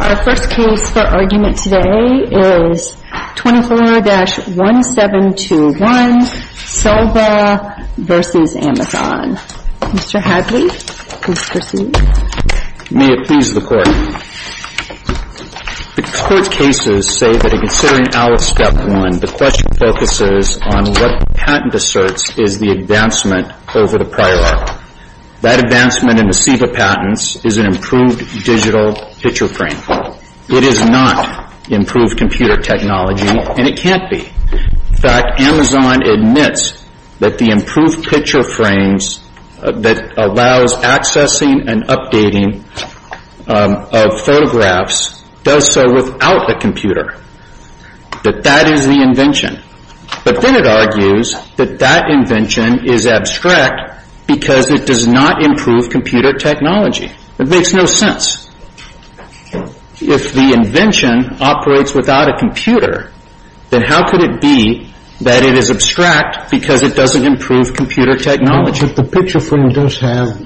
Our first case for argument today is 24-1721, Selva v. Amazon. Mr. Hadley, please proceed. May it please the Court. The Court's cases say that in considering Alice Step 1, the question focuses on what the patent asserts is the advancement over the prior article. That advancement in the SEIVA patents is an improved digital picture frame. It is not improved computer technology, and it can't be. In fact, Amazon admits that the improved picture frames that allows accessing and updating of photographs does so without a computer. But that is the invention. But then it argues that that invention is abstract because it does not improve computer technology. It makes no sense. If the invention operates without a computer, then how could it be that it is abstract because it doesn't improve computer technology? But the picture frame does have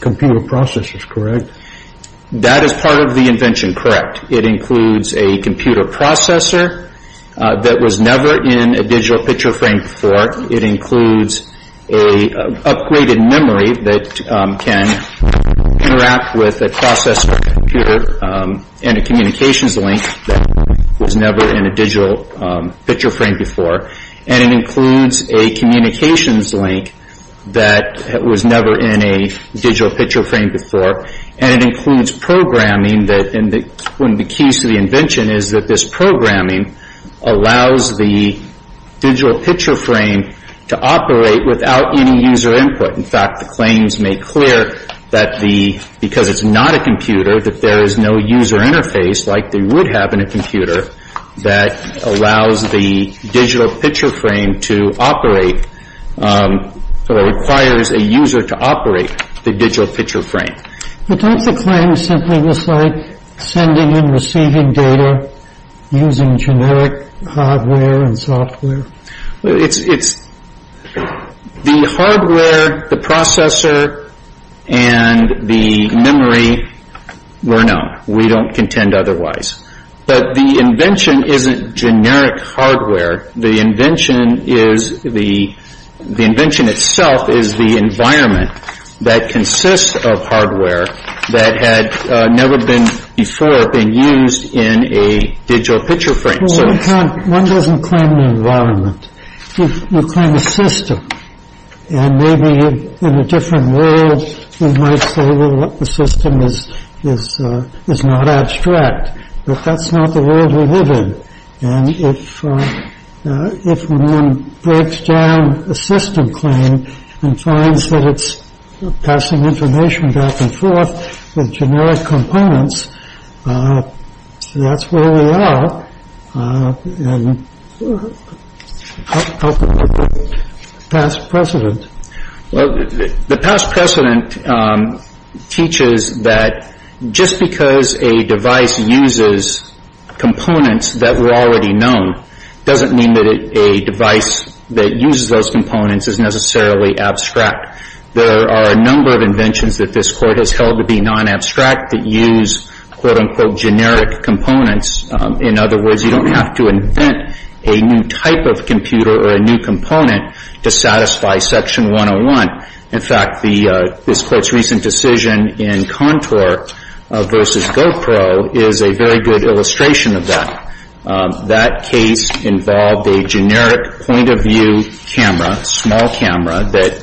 computer processors, correct? That is part of the invention, correct. It includes a computer processor that was never in a digital picture frame before. It includes an upgraded memory that can interact with a processor and a communications link that was never in a digital picture frame before. And it includes a communications link that was never in a digital picture frame before. And it includes programming. One of the keys to the invention is that this programming allows the digital picture frame to operate without any user input. In fact, the claims make clear that because it is not a computer, that there is no user interface like they would have in a computer that allows the digital picture frame to operate, that it requires a user to operate the digital picture frame. But don't the claims simply look like sending and receiving data using generic hardware and software? The hardware, the processor, and the memory were known. We don't contend otherwise. But the invention isn't generic hardware. The invention is the, the invention itself is the environment that consists of hardware that had never been before being used in a digital picture frame. Well, one doesn't claim an environment. You claim a system. And maybe in a different world we might say, well, the system is not abstract. But that's not the world we live in. And if one breaks down a system claim and finds that it's passing information back and forth with generic components, that's where we are. And how can we break past precedent? Well, the past precedent teaches that just because a device uses components that were already known doesn't mean that a device that uses those components is necessarily abstract. There are a number of inventions that this Court has held to be non-abstract that use quote, unquote, generic components. In other words, you don't have to invent a new type of computer or a new component to satisfy Section 101. In fact, the, this Court's recent decision in Contour versus GoPro is a very good illustration of that. That case involved a generic point of view camera, small camera, that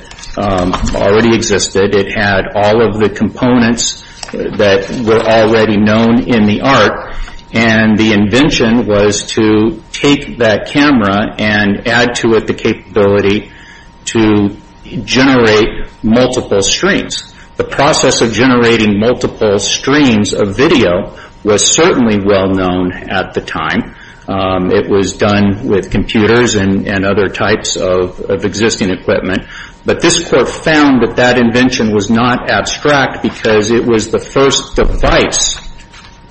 already existed. It had all of the components that were already known in the art. And the invention was to take that camera and make it, and add to it the capability to generate multiple streams. The process of generating multiple streams of video was certainly well known at the time. It was done with computers and other types of existing equipment. But this Court found that that invention was not abstract because it was the first device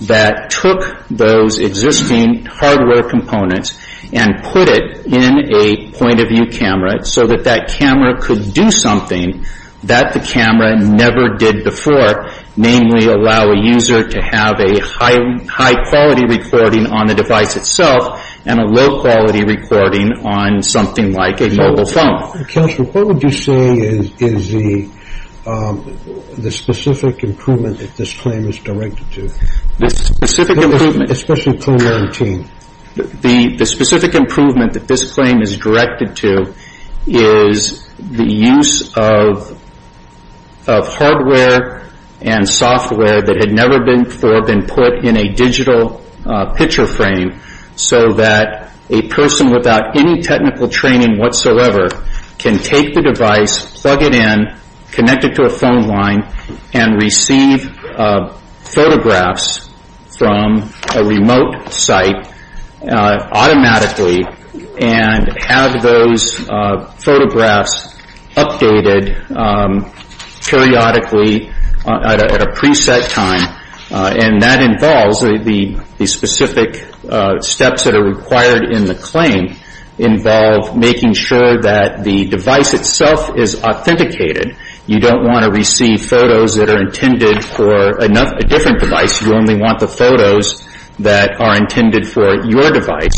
that took those existing hardware components and put it in a point of view camera so that that camera could do something that the camera never did before, namely allow a user to have a high, high quality recording on the device itself and a low quality recording on something like a mobile phone. The Court. Counselor, what would you say is, is the, the specific improvement that this claim is directed to? The specific improvement. Especially pre-quarantine. The, the specific improvement that this claim is directed to is the use of, of hardware and software that had never before been put in a digital picture frame so that a person without any technical training whatsoever can take the device, plug it in, connect it to a phone line, and receive photographs from a remote site automatically and have those photographs updated periodically at a, at a preset time. And that involves the, the specific steps that are required in the claim involve making sure that the device itself is authenticated. You don't want to receive photos that are intended for another, a different device. You only want the photos that are intended for your device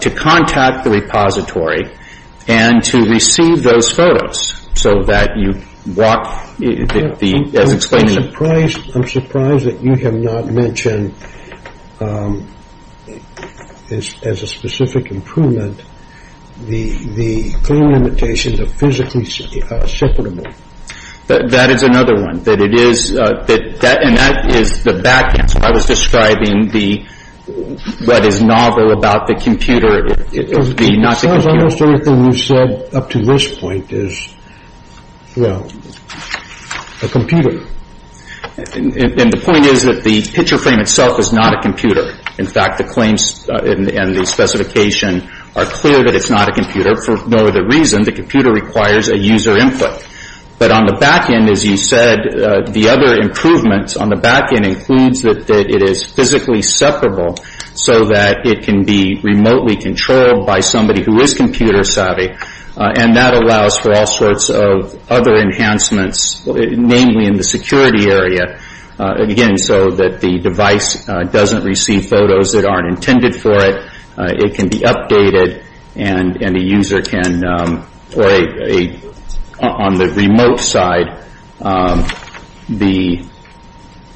to contact the repository and to receive those photos so that you walk the, the, as explained. I'm surprised, I'm surprised that you have not mentioned as, as a specific improvement the, the claim limitations of physically separable. That is another one. That it is, that, that, and that is the back answer. I was describing the, what is novel about the computer, the, not the computer. As far as I understand, everything you've said up to this point is, well, a computer. And, and the point is that the picture frame itself is not a computer. In fact, the claims and, and the specification are clear that it's not a computer. For no other reason, the computer requires a user input. But on the back end, as you said, the other improvements on the back end includes that, that it is physically separable so that it can be remotely controlled by somebody who is computer savvy. And that allows for all sorts of other enhancements, namely in the security area. Again, so that the device doesn't receive photos that aren't intended for it. It can be updated and, and the user can, or a, a, on the remote side, the,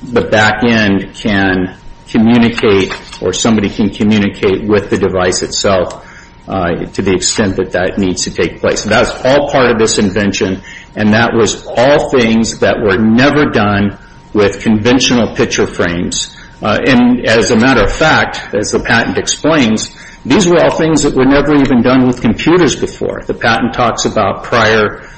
the back end can communicate or somebody can communicate with the device itself to the extent that that needs to take place. That's all part of this invention. And that was all things that were never done with conventional picture frames. And as a matter of fact, as the patent explains, these were all things that were never even done with computers before. The patent talks about prior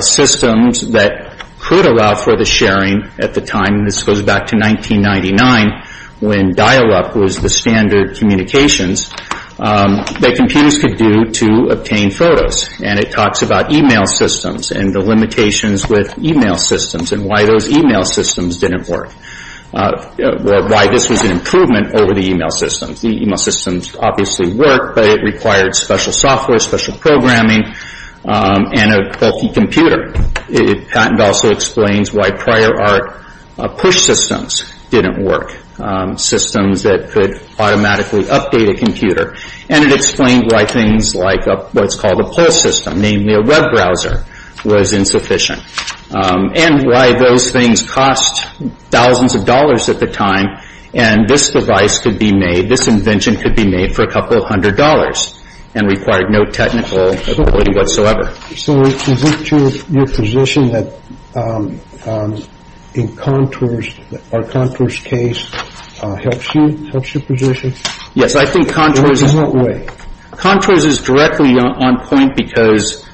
systems that could allow for the sharing at the time, and this goes back to 1999, when dial-up was the standard communications that computers could do to obtain photos. And it talks about email systems and the limitations with email systems and why those email systems didn't work. Why this was an improvement over the email systems. The email systems obviously worked, but it required special software, special programming, and a bulky computer. The patent also explains why prior art push systems didn't work. Systems that could automatically update a computer. And it explained why things like what's called a pull system, namely a web browser, was insufficient. And why those things cost thousands of dollars at the time and this device could be made, this invention could be made for a couple of hundred dollars and required no technical ability whatsoever. So is it your position that in Contours, our Contours case, helps you? Helps your position? Yes, I think Contours is directly on point because,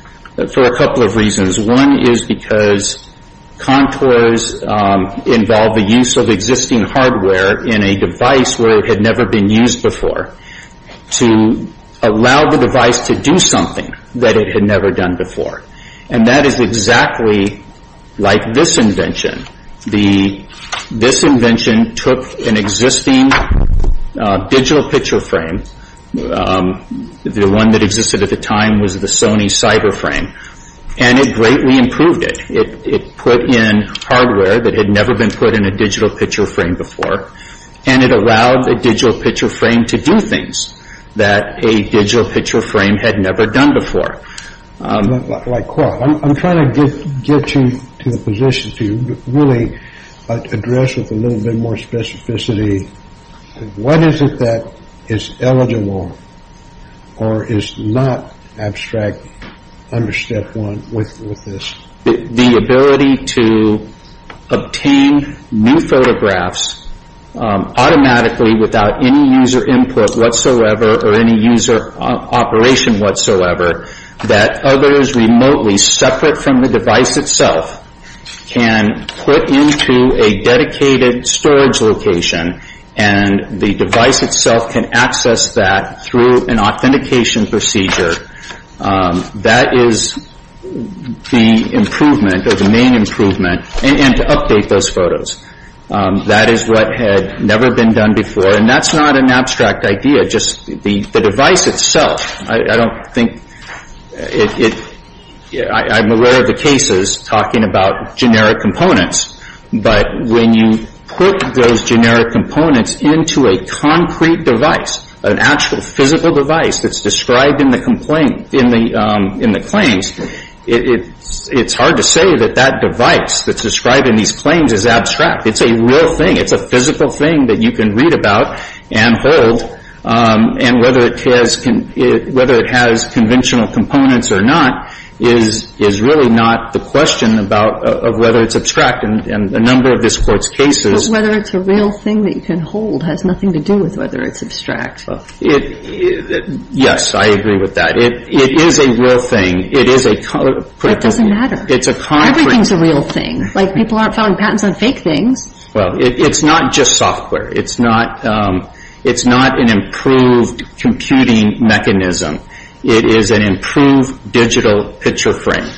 for a couple of reasons. One is because Contours involved the use of existing hardware in a device where it had never been used before to allow the device to do something that it had never done before. And that is exactly like this invention. This invention took an existing digital picture frame, the one that existed at the time was the Sony CyberFrame, and it greatly improved it. It put in hardware that had never been put in a digital picture frame before and it allowed the digital picture frame to do things that a digital picture frame had never done before. Like, well, I'm trying to get you to a position to really address with a little bit more specificity, what is it that is eligible or is not abstract under Step 1 with this? The ability to obtain new photographs automatically without any user intervention. Without any user input whatsoever or any user operation whatsoever that others remotely, separate from the device itself, can put into a dedicated storage location and the device itself can access that through an authentication procedure. That is the improvement, or the main improvement, and to update those photos. That is what had never been done before and that is not an abstract idea. Just the device itself, I don't think, I'm aware of the cases talking about generic components, but when you put those generic components into a concrete device, an actual physical device that is described in the claims, it is hard to say that that device that is described in these claims is abstract. It is a real thing. It is a thing that you can read about and hold, and whether it has conventional components or not is really not the question of whether it is abstract. And a number of this Court's cases… But whether it is a real thing that you can hold has nothing to do with whether it is abstract. Yes, I agree with that. It is a real thing. It is a concrete… But it doesn't matter. Everything is a real thing. Like, people aren't filing patents on fake things. It is not just software. It is not an improved computing mechanism. It is an improved digital picture frame.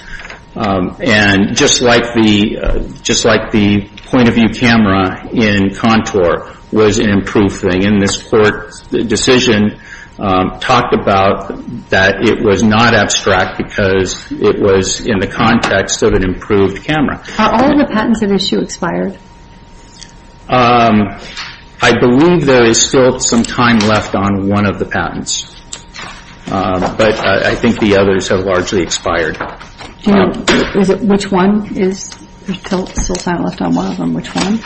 And just like the point of view camera in Contour was an improved thing, and this Court's decision talked about that it was not abstract because it was in the context of an improved camera. Are all of the patents at issue expired? I believe there is still some time left on one of the patents, but I think the others have largely expired. Do you know which one is… there is still some time left on one of them. Which one?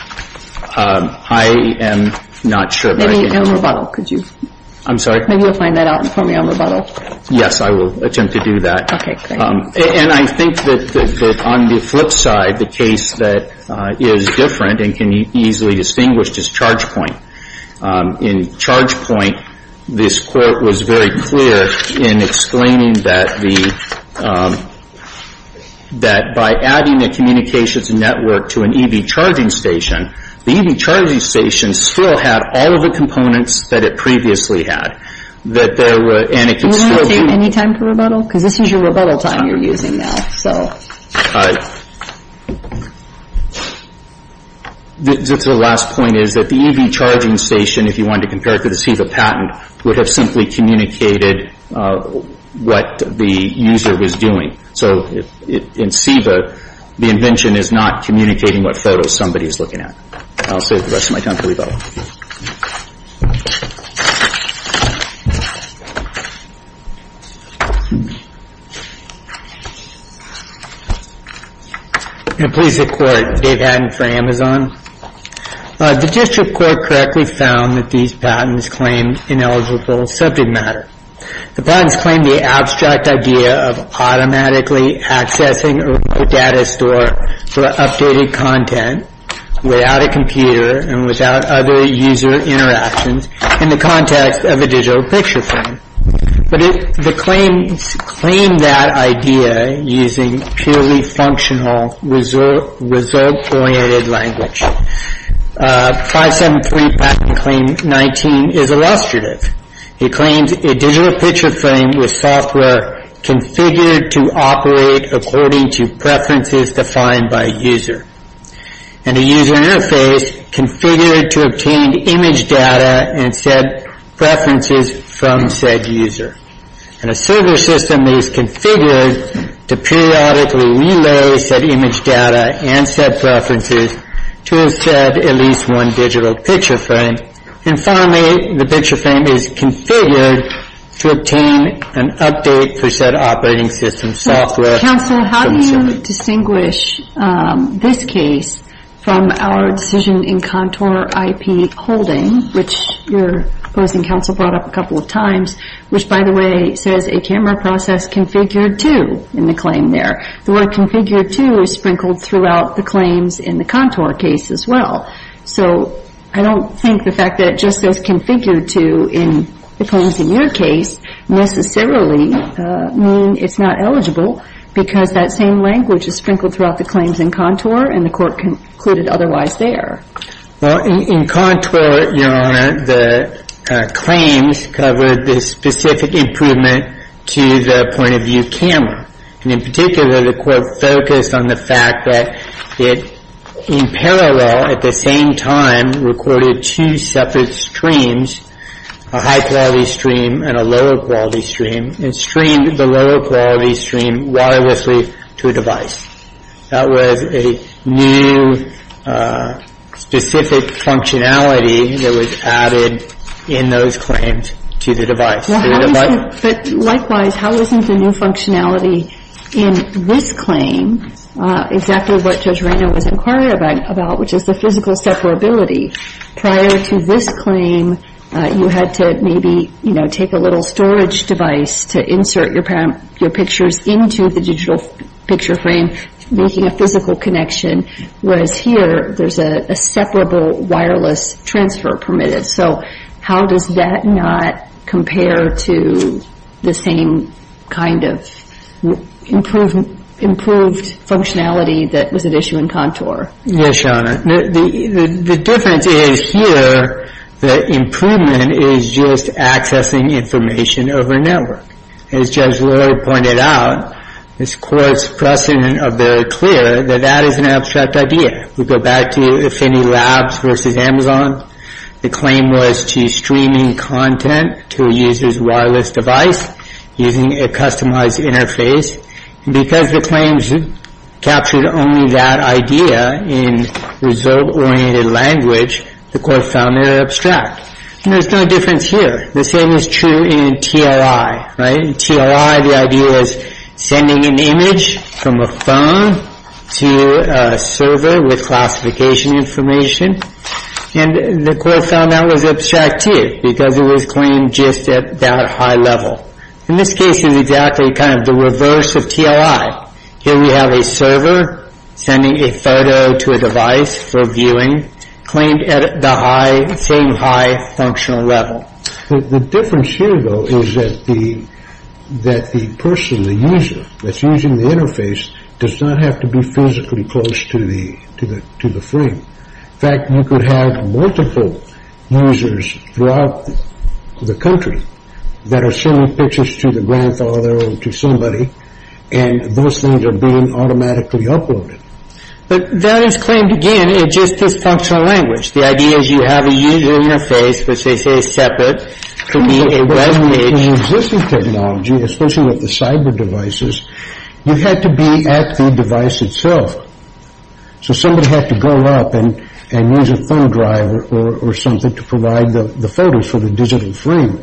I am not sure, but I can… Maybe on rebuttal, could you… I am sorry? Maybe you will find that out for me on rebuttal. Yes, I will attempt to do that. Okay, great. And I think that on the flip side, the case that is different and can be easily distinguished is ChargePoint. In ChargePoint, this Court was very clear in explaining that the… that by adding a communications network to an EV charging station, the EV charging station still had all of the components that it previously had. That there were… Any time for rebuttal? Because this is your rebuttal time you are using now, so… The last point is that the EV charging station, if you wanted to compare it to the SEVA patent, would have simply communicated what the user was doing. So in SEVA, the invention is not communicating what photo somebody is looking at. I will save the rest of my time for rebuttal. Please, the Court. Dave Hadden for Amazon. The District Court correctly found that these patents claim ineligible subject matter. The patents claim the abstract idea of automatically accessing a data store for updated content without a computer and without other user interactions in the context of a digital picture frame. But the claims claim that idea using purely functional, result-oriented language. 573 patent claim 19 is illustrative. It claims a digital picture frame with software configured to operate according to preferences defined by a user. And a user interface configured to obtain image data and set preferences from said user. And a server system is configured to periodically relay said image data and set preferences to a set, at least one, digital picture frame. And finally, the picture frame is configured to obtain an update for said operating system software… I would distinguish this case from our decision in CONTOUR IP holding, which your opposing counsel brought up a couple of times, which by the way says a camera process configured to in the claim there. The word configured to is sprinkled throughout the claims in the CONTOUR case as well. So I don't think the fact that it just says configured to in the claims in your case necessarily mean it's not eligible, because that same language is sprinkled throughout the claims in CONTOUR and the Court concluded otherwise there. Well, in CONTOUR, Your Honor, the claims covered the specific improvement to the point-of-view camera. And in particular, the Court focused on the fact that it in parallel at the same time recorded two separate streams, a high-quality stream and a lower-quality stream, and streamed the lower-quality stream wirelessly to a device. That was a new specific functionality that was added in those claims to the device. But likewise, how is the new functionality in this claim exactly what Judge Raynor was referring to, which is the physical separability? Prior to this claim, you had to maybe, you know, take a little storage device to insert your pictures into the digital picture frame, making a physical connection, whereas here there's a separable wireless transfer permitted. So how does that not compare to the same kind of improved functionality that was at issue in CONTOUR? Yes, Your Honor. The difference is here the improvement is just accessing information over network. As Judge Lurie pointed out, this Court's precedent of very clear that that is an abstract idea. We go back to Finney Labs versus Amazon. The claim was to streaming content to a user's wireless device using a customized interface. And because the claims captured only that idea in result-oriented language, the Court found it abstract. And there's no difference here. The same is true in TLI, right? In TLI, the idea was sending an image from a phone to a server with classification information. And the Court found that was abstracted because it was claimed just at that high level. In this case, it's exactly kind of the reverse of TLI. Here we have a server sending a photo to a device for viewing, claimed at the same high functional level. The difference here, though, is that the person, the user, that's using the interface does not have to be physically close to the frame. In fact, you could have multiple users throughout the country that are sending pictures to the grandfather or to somebody, and those things are being automatically uploaded. But that is claimed, again, in just this functional language. The idea is you have a user interface, which they say is separate, could be a web page. In existing technology, especially with the cyber devices, you had to be at the device itself. So somebody had to go up and use a thumb drive or something to provide the photos for the digital frame.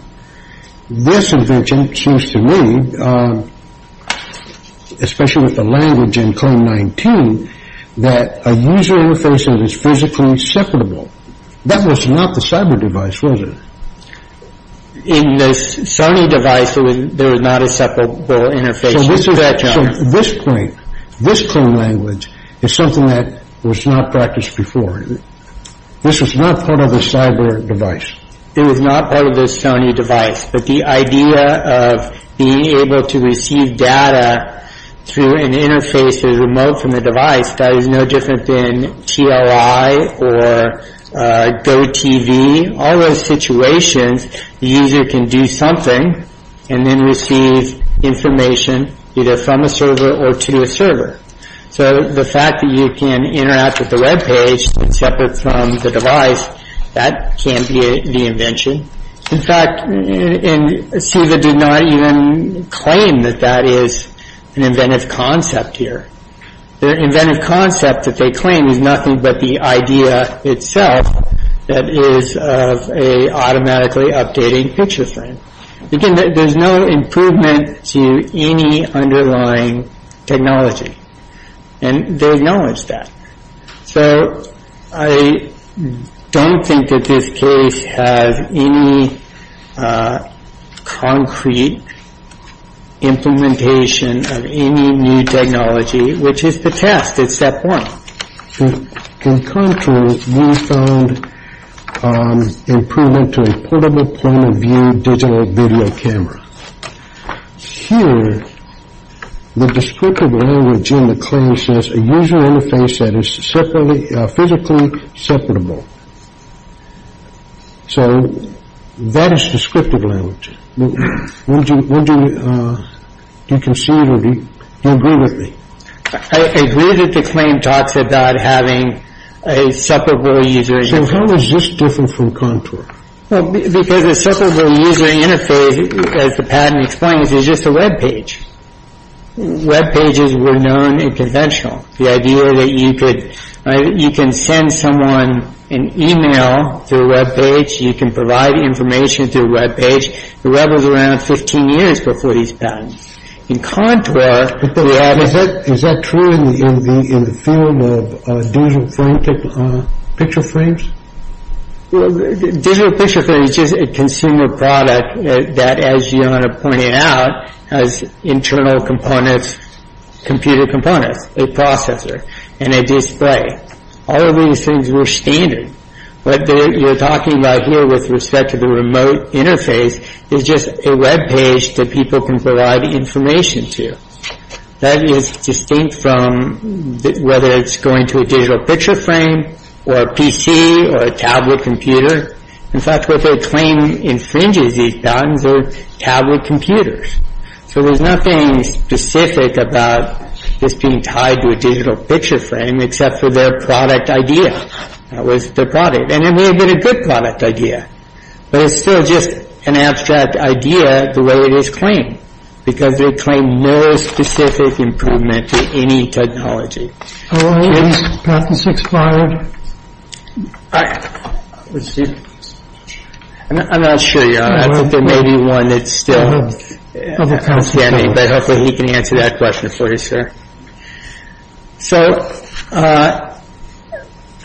This invention seems to me, especially with the language in CLAIM 19, that a user interface is physically separable. That was not the cyber device, was it? In the Sony device, there was not a separable interface. So this is, from this point, this CLAIM language is something that was not practiced before. This is not part of a cyber device. It was not part of the Sony device. But the idea of being able to receive data through an interface that is remote from the device, that is no different than TLI or GoTV, all those situations, the user can do something and then receive information either from a server or to a server. So the fact that you can interact with the web page and separate data from the device, that can't be the invention. In fact, SEVA did not even claim that that is an inventive concept here. The inventive concept that they claim is nothing but the idea itself that is of an automatically updating picture frame. Again, there's no improvement to any underlying technology. And they acknowledge that. So I don't think that this case has any concrete implementation of any new technology, which is the test. It's step one. In contrast, we found improvement to a portable point-of-view digital video camera. Here, the descriptive language in the claim says a user interface that is physically separable. So that is descriptive language. Do you agree with me? I agree that the claim talks about having a separable user interface. So how is this different from contour? Well, because a separable user interface, as the patent explains, is just a web page. Web pages were known and conventional. The idea that you could, you can send someone an e-mail through a web page. You can provide information through a web page. The web was around 15 years before these patents. In contour... Is that true in the field of digital picture frames? Digital picture frame is just a consumer product that, as you want to point it out, has internal components, computer components, a processor, and a display. All of these things were standard. What you're talking about here with respect to the remote interface is just a web page that people can provide information to. That is distinct from whether it's going to a digital picture frame or a PC or a tablet computer. In fact, what they claim infringes these patents are tablet computers. So there's nothing specific about this being tied to a digital picture frame except for their product idea. That was their product. And it may have been a good product idea, but it's still just an abstract idea the way it is claimed because they claim no specific improvement to any technology. All right. Patents expired. I'm not sure. There may be one that's still standing, but hopefully he can answer that question for you, sir. So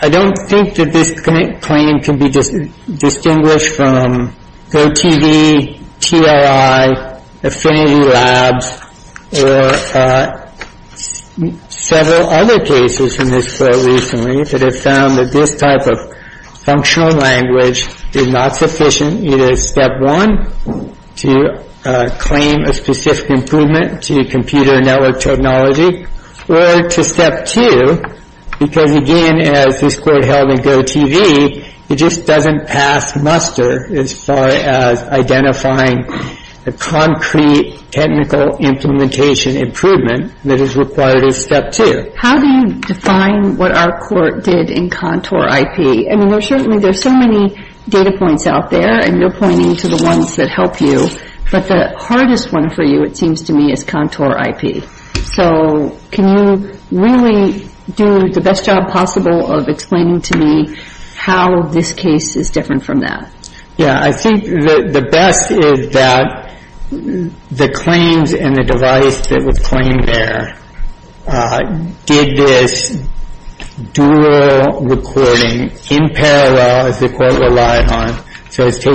I don't think that this claim can be distinguished from GoTV, TRI, Affinity Labs, or several other cases in this court recently that have found that this type of functional language is not sufficient either as step one to claim a specific improvement to computer network technology or to step two because, again, as this court held in GoTV, it just doesn't pass muster as far as identifying a concrete technical implementation improvement that is required as step two. How do you define what our court did in Contour IP? I mean, certainly there's so many data points out there, and you're pointing to the ones that help you, but the hardest one for you, it seems to me, is Contour IP. So can you really do the best job possible of explaining to me how this case is different from that? Yeah, I think the best is that the claims and the device that was claimed there did this dual recording in parallel, as the court relied on. So it's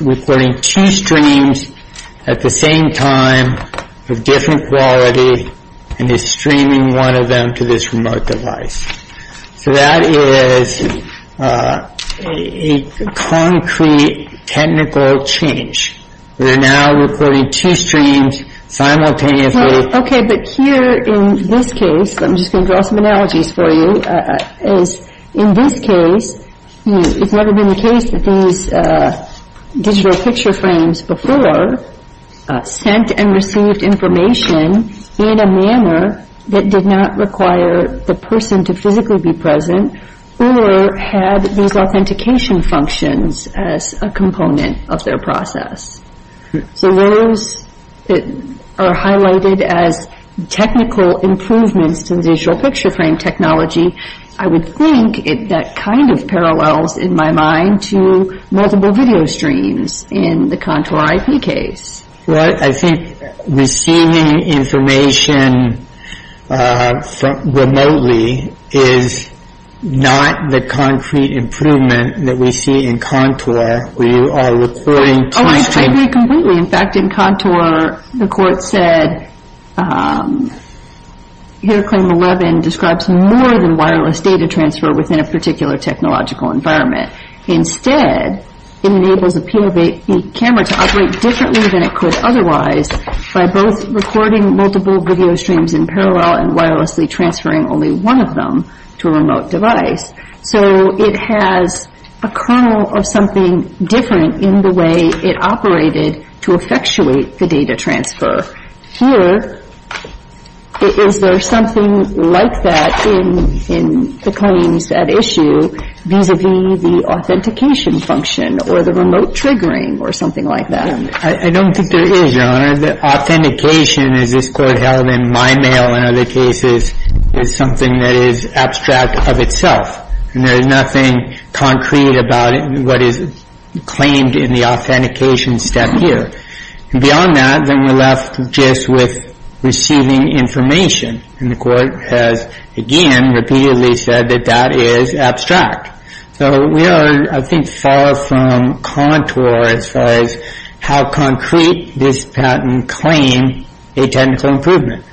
recording two streams at the same time of different quality and is streaming one of them to this remote device. So that is a concrete technical change. They're now recording two streams simultaneously. Okay, but here in this case, I'm just going to draw some analogies for you, is in this case, it's never been the case that these digital picture frames before sent and received information in a manner that did not require the person to physically be present or had these authentication functions as a component of their process. So those are highlighted as technical improvements to the digital picture frame technology. I would think that kind of parallels in my mind to multiple video streams in the Contour IP case. Well, I think receiving information remotely is not the concrete improvement that we see in Contour where you are recording two streams. Oh, I agree completely. In fact, in Contour, the court said, here claim 11 describes more than wireless data transfer within a particular technological environment. Instead, it enables a camera to operate differently than it could otherwise by both recording multiple video streams in parallel and wirelessly transferring only one of them to a remote device. So it has a kernel of something different in the way it operated to effectuate the data transfer. Here, is there something like that in the claims at issue vis-a-vis the authentication function or the remote triggering or something like that? I don't think there is, Your Honor. The authentication, as this Court held in my mail and other cases, is something that is abstract of itself. And there is nothing concrete about what is claimed in the authentication step here. Beyond that, then we're left just with receiving information. And the Court has, again, repeatedly said that that is abstract. So we are, I think, far from Contour as far as how concrete this patent claim a technical improvement.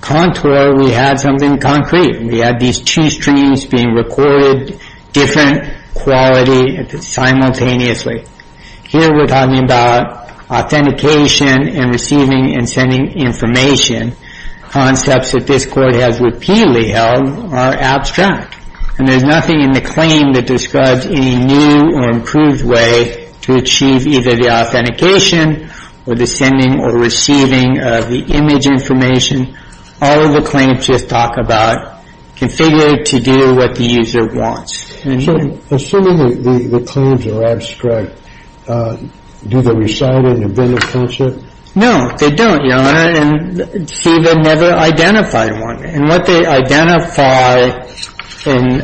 Contour, we had something concrete. We had these two streams being recorded, different quality simultaneously. Here we're talking about authentication and receiving and sending information. Concepts that this Court has repeatedly held are abstract. And there's nothing in the claim that describes any new or improved way to achieve either the authentication or the sending or receiving of the image information. All of the claims just talk about configuring to do what the user wants. So, assuming the claims are abstract, do they reside in the vending function? No, they don't, Your Honor. And SEVA never identified one. And what they identify in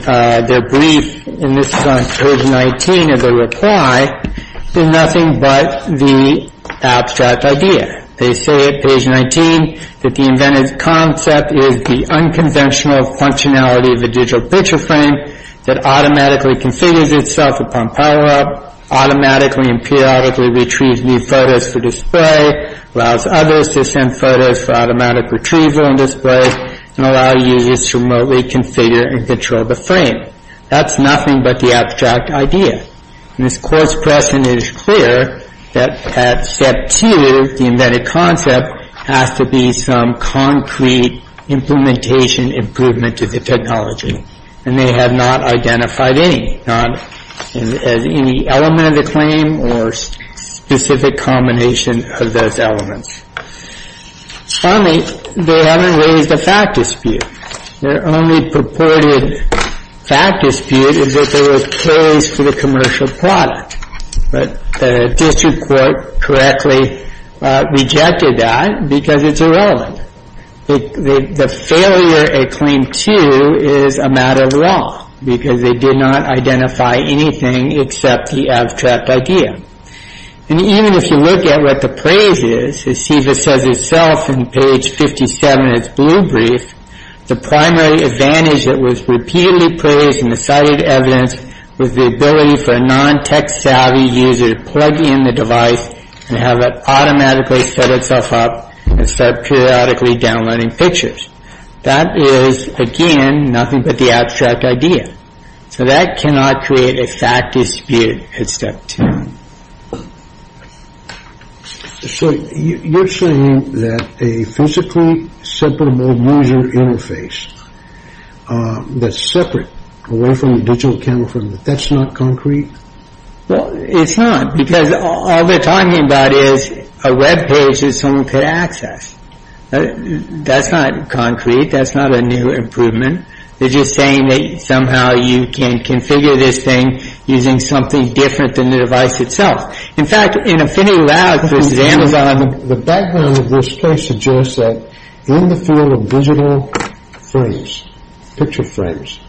their brief, and this is on page 19 of the reply, is nothing but the abstract idea. They say at page 19 that the invented concept is the unconventional functionality of a digital picture frame that automatically configures itself upon power-up, automatically and periodically retrieves new photos for display, allows others to send photos for automatic retrieval and display, and allow users to remotely configure and control the frame. That's nothing but the abstract idea. And this Court's question is clear that at Step 2, the invented concept has to be some concrete implementation improvement to the technology. And they have not identified any, not as any element of the claim or specific combination of those elements. Finally, they haven't raised a fact dispute. Their only purported fact dispute is that there was praise for the commercial product. But the District Court correctly rejected that because it's irrelevant. The failure at Claim 2 is a matter of law because they did not identify anything except the abstract idea. And even if you look at what the praise is, as SEVA says itself in page 57 of its blue brief, the primary advantage that was repeatedly praised in the cited evidence was the ability for a non-tech-savvy user to plug in the device and have it automatically set itself up and start periodically downloading pictures. That is, again, nothing but the abstract idea. So that cannot create a fact dispute at Step 2. So you're saying that a physically separable user interface that's separate, away from the digital camera frame, that's not concrete? Well, it's not, because all they're talking about is a web page that someone could access. That's not concrete. That's not a new improvement. They're just saying that somehow you can configure this thing using something different than the device itself. In fact, in Affinity The background of this case suggests that in the field of digital frames, picture frames,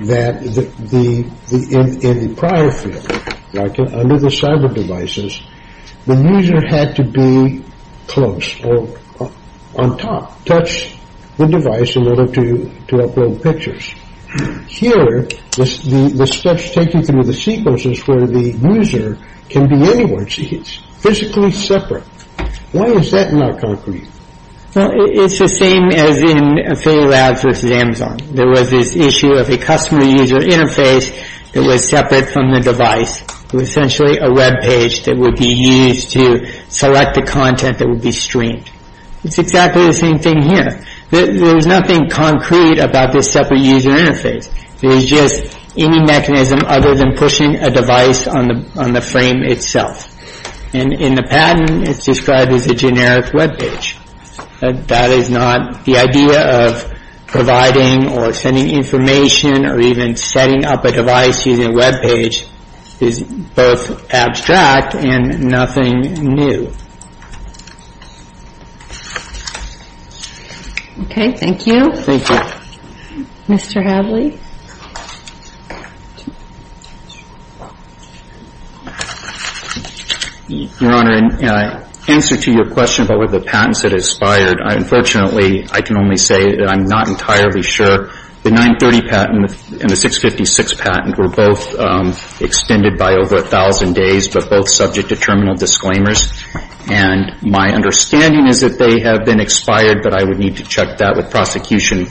that in the prior field, under the cyber devices, the user had to be close or on top, touch the device in order to upload pictures. Here, the steps taken through the sequence is where the user can be anywhere. It's physically separate. Why is that not concrete? Well, it's the same as in Affiliate Labs versus Amazon. There was this issue of a customer user interface that was separate from the device, essentially a web page that would be used to select the content that would be streamed. It's exactly the same thing here. There's nothing concrete about this separate user interface. There's just any mechanism other than pushing a device on the frame itself. And in the patent, it's described as a generic web page. That is not the idea of providing or sending information or even setting up a device using a web page is both abstract and nothing new. Okay. Thank you. Thank you. Mr. Hadley. Your Honor, in answer to your question about what the patents that aspired, unfortunately, I can only say that I'm not entirely sure. The 930 patent and the 656 patent were both extended by over a thousand days, but both subject to terminal disclaimers. And my understanding is that they have been expired, but I would need to check that with prosecution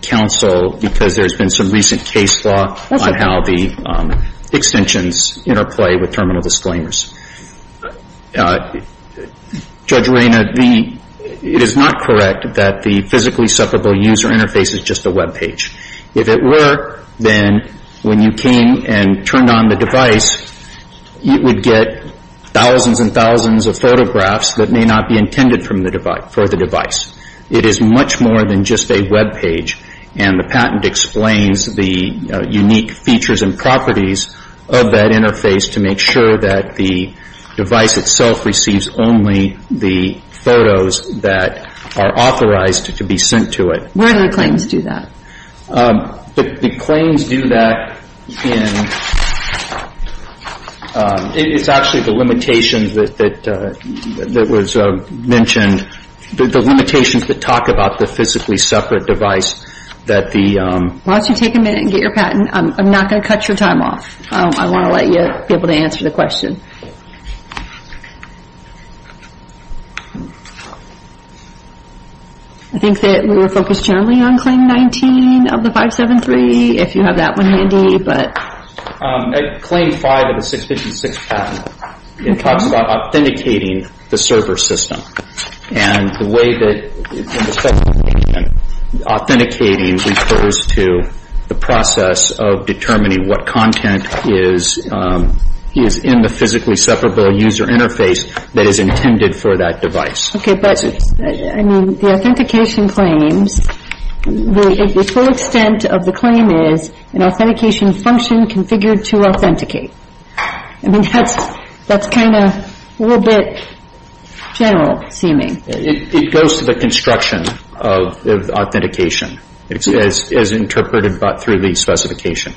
counsel because there's been some recent case law on how the extensions interplay with terminal disclaimers. Judge Arena, it is not correct that the physically separable user interface is just a web page. If it were, then when you came and turned on the device, you would get thousands and thousands of photographs that may not be intended for the device. It is much more than just a web page, and the patent explains the unique features and properties of that interface to make sure that the device itself receives only the photos that are authorized to be sent to it. Where do the claims do that? The claims do that in, it's actually the limitations that was mentioned, the limitations that talk about the physically separate device that the Why don't you take a minute and get your patent. I'm not going to cut your time off. I want to let you be able to answer the question. I think that we will focus generally on claim 19 of the 573, if you have that one handy. Claim 5 of the 656 patent, it talks about authenticating the server system, and the way that authenticating refers to the process of determining what content is in the physically separable user interface that is intended for that device. Okay, but I mean, the authentication claims, the full extent of the claim is an authentication function configured to authenticate. I mean, that's kind of a little bit general-seeming. It goes to the construction of authentication as interpreted through the specification.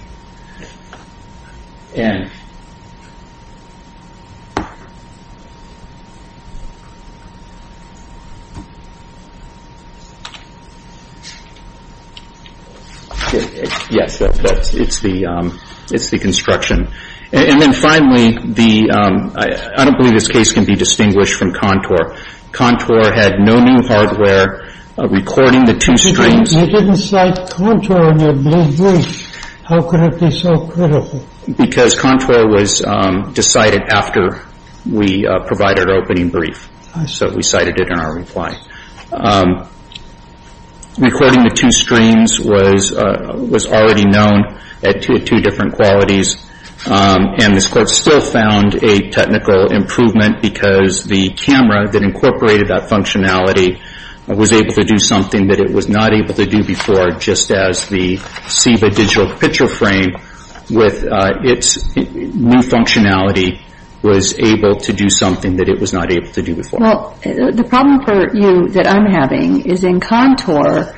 Yes, it's the construction. And then finally, I don't believe this case can be distinguished from Contour. Contour had no new hardware recording the two streams. You didn't cite Contour in your brief. How could it be so critical? Because Contour was decided after we provided our opening brief, so we cited it in our reply. Recording the two streams was already known at two different qualities, and this court still found a technical improvement because the camera that incorporated that functionality was able to do something that it was not able to do before, just as the SIVA digital picture frame with its new functionality was able to do something that it was not able to do before. Well, the problem for you that I'm having is in Contour,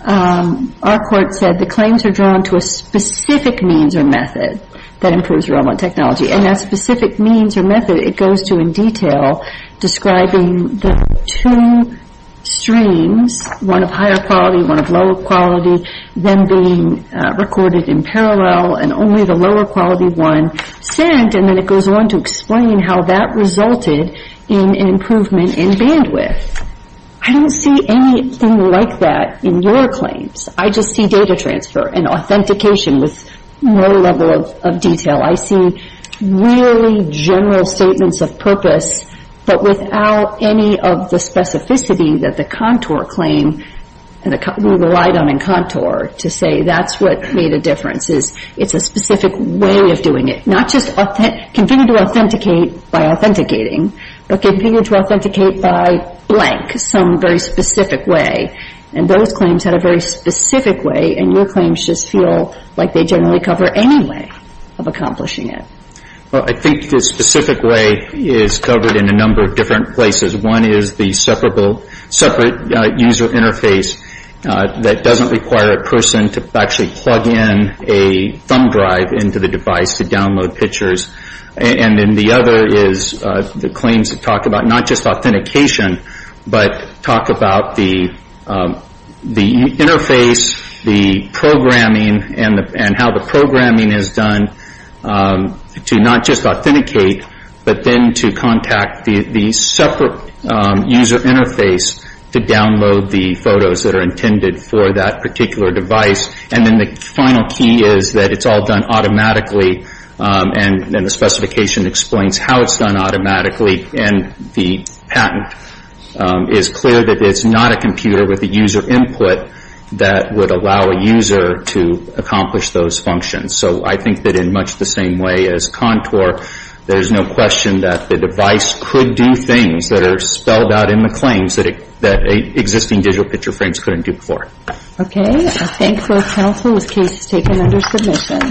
our court said the claims are drawn to a specific means or method that improves remote technology. And that specific means or method, it goes to in detail describing the two streams, one of higher quality, one of lower quality, them being recorded in parallel, and only the lower quality one sent, and then it goes on to explain how that resulted in an improvement in bandwidth. I don't see anything like that in your claims. I just see data transfer and authentication with no level of detail. I see really general statements of purpose, but without any of the specificity that the Contour claim, we relied on in Contour to say that's what made a difference. It's a specific way of doing it, not just convenient to authenticate by authenticating, but convenient to authenticate by blank, some very specific way. And those claims had a very specific way, and your claims just feel like they generally cover any way of accomplishing it. Well, I think the specific way is covered in a number of different places. One is the separate user interface that doesn't require a person to actually plug in a thumb drive into the device to download pictures. And then the other is the claims that talk about not just authentication, but talk about the interface, the programming, and how the programming is done to not just authenticate, but then to contact the separate user interface to download the photos that are intended for that particular device. And then the final key is that it's all done automatically, and the specification explains how it's done automatically. And the patent is clear that it's not a computer with a user input that would allow a user to accomplish those functions. So I think that in much the same way as Contour, there's no question that the device could do things that are spelled out in the claims that existing digital picture frames couldn't do before. Okay. I thank both counsel. This case is taken under submission.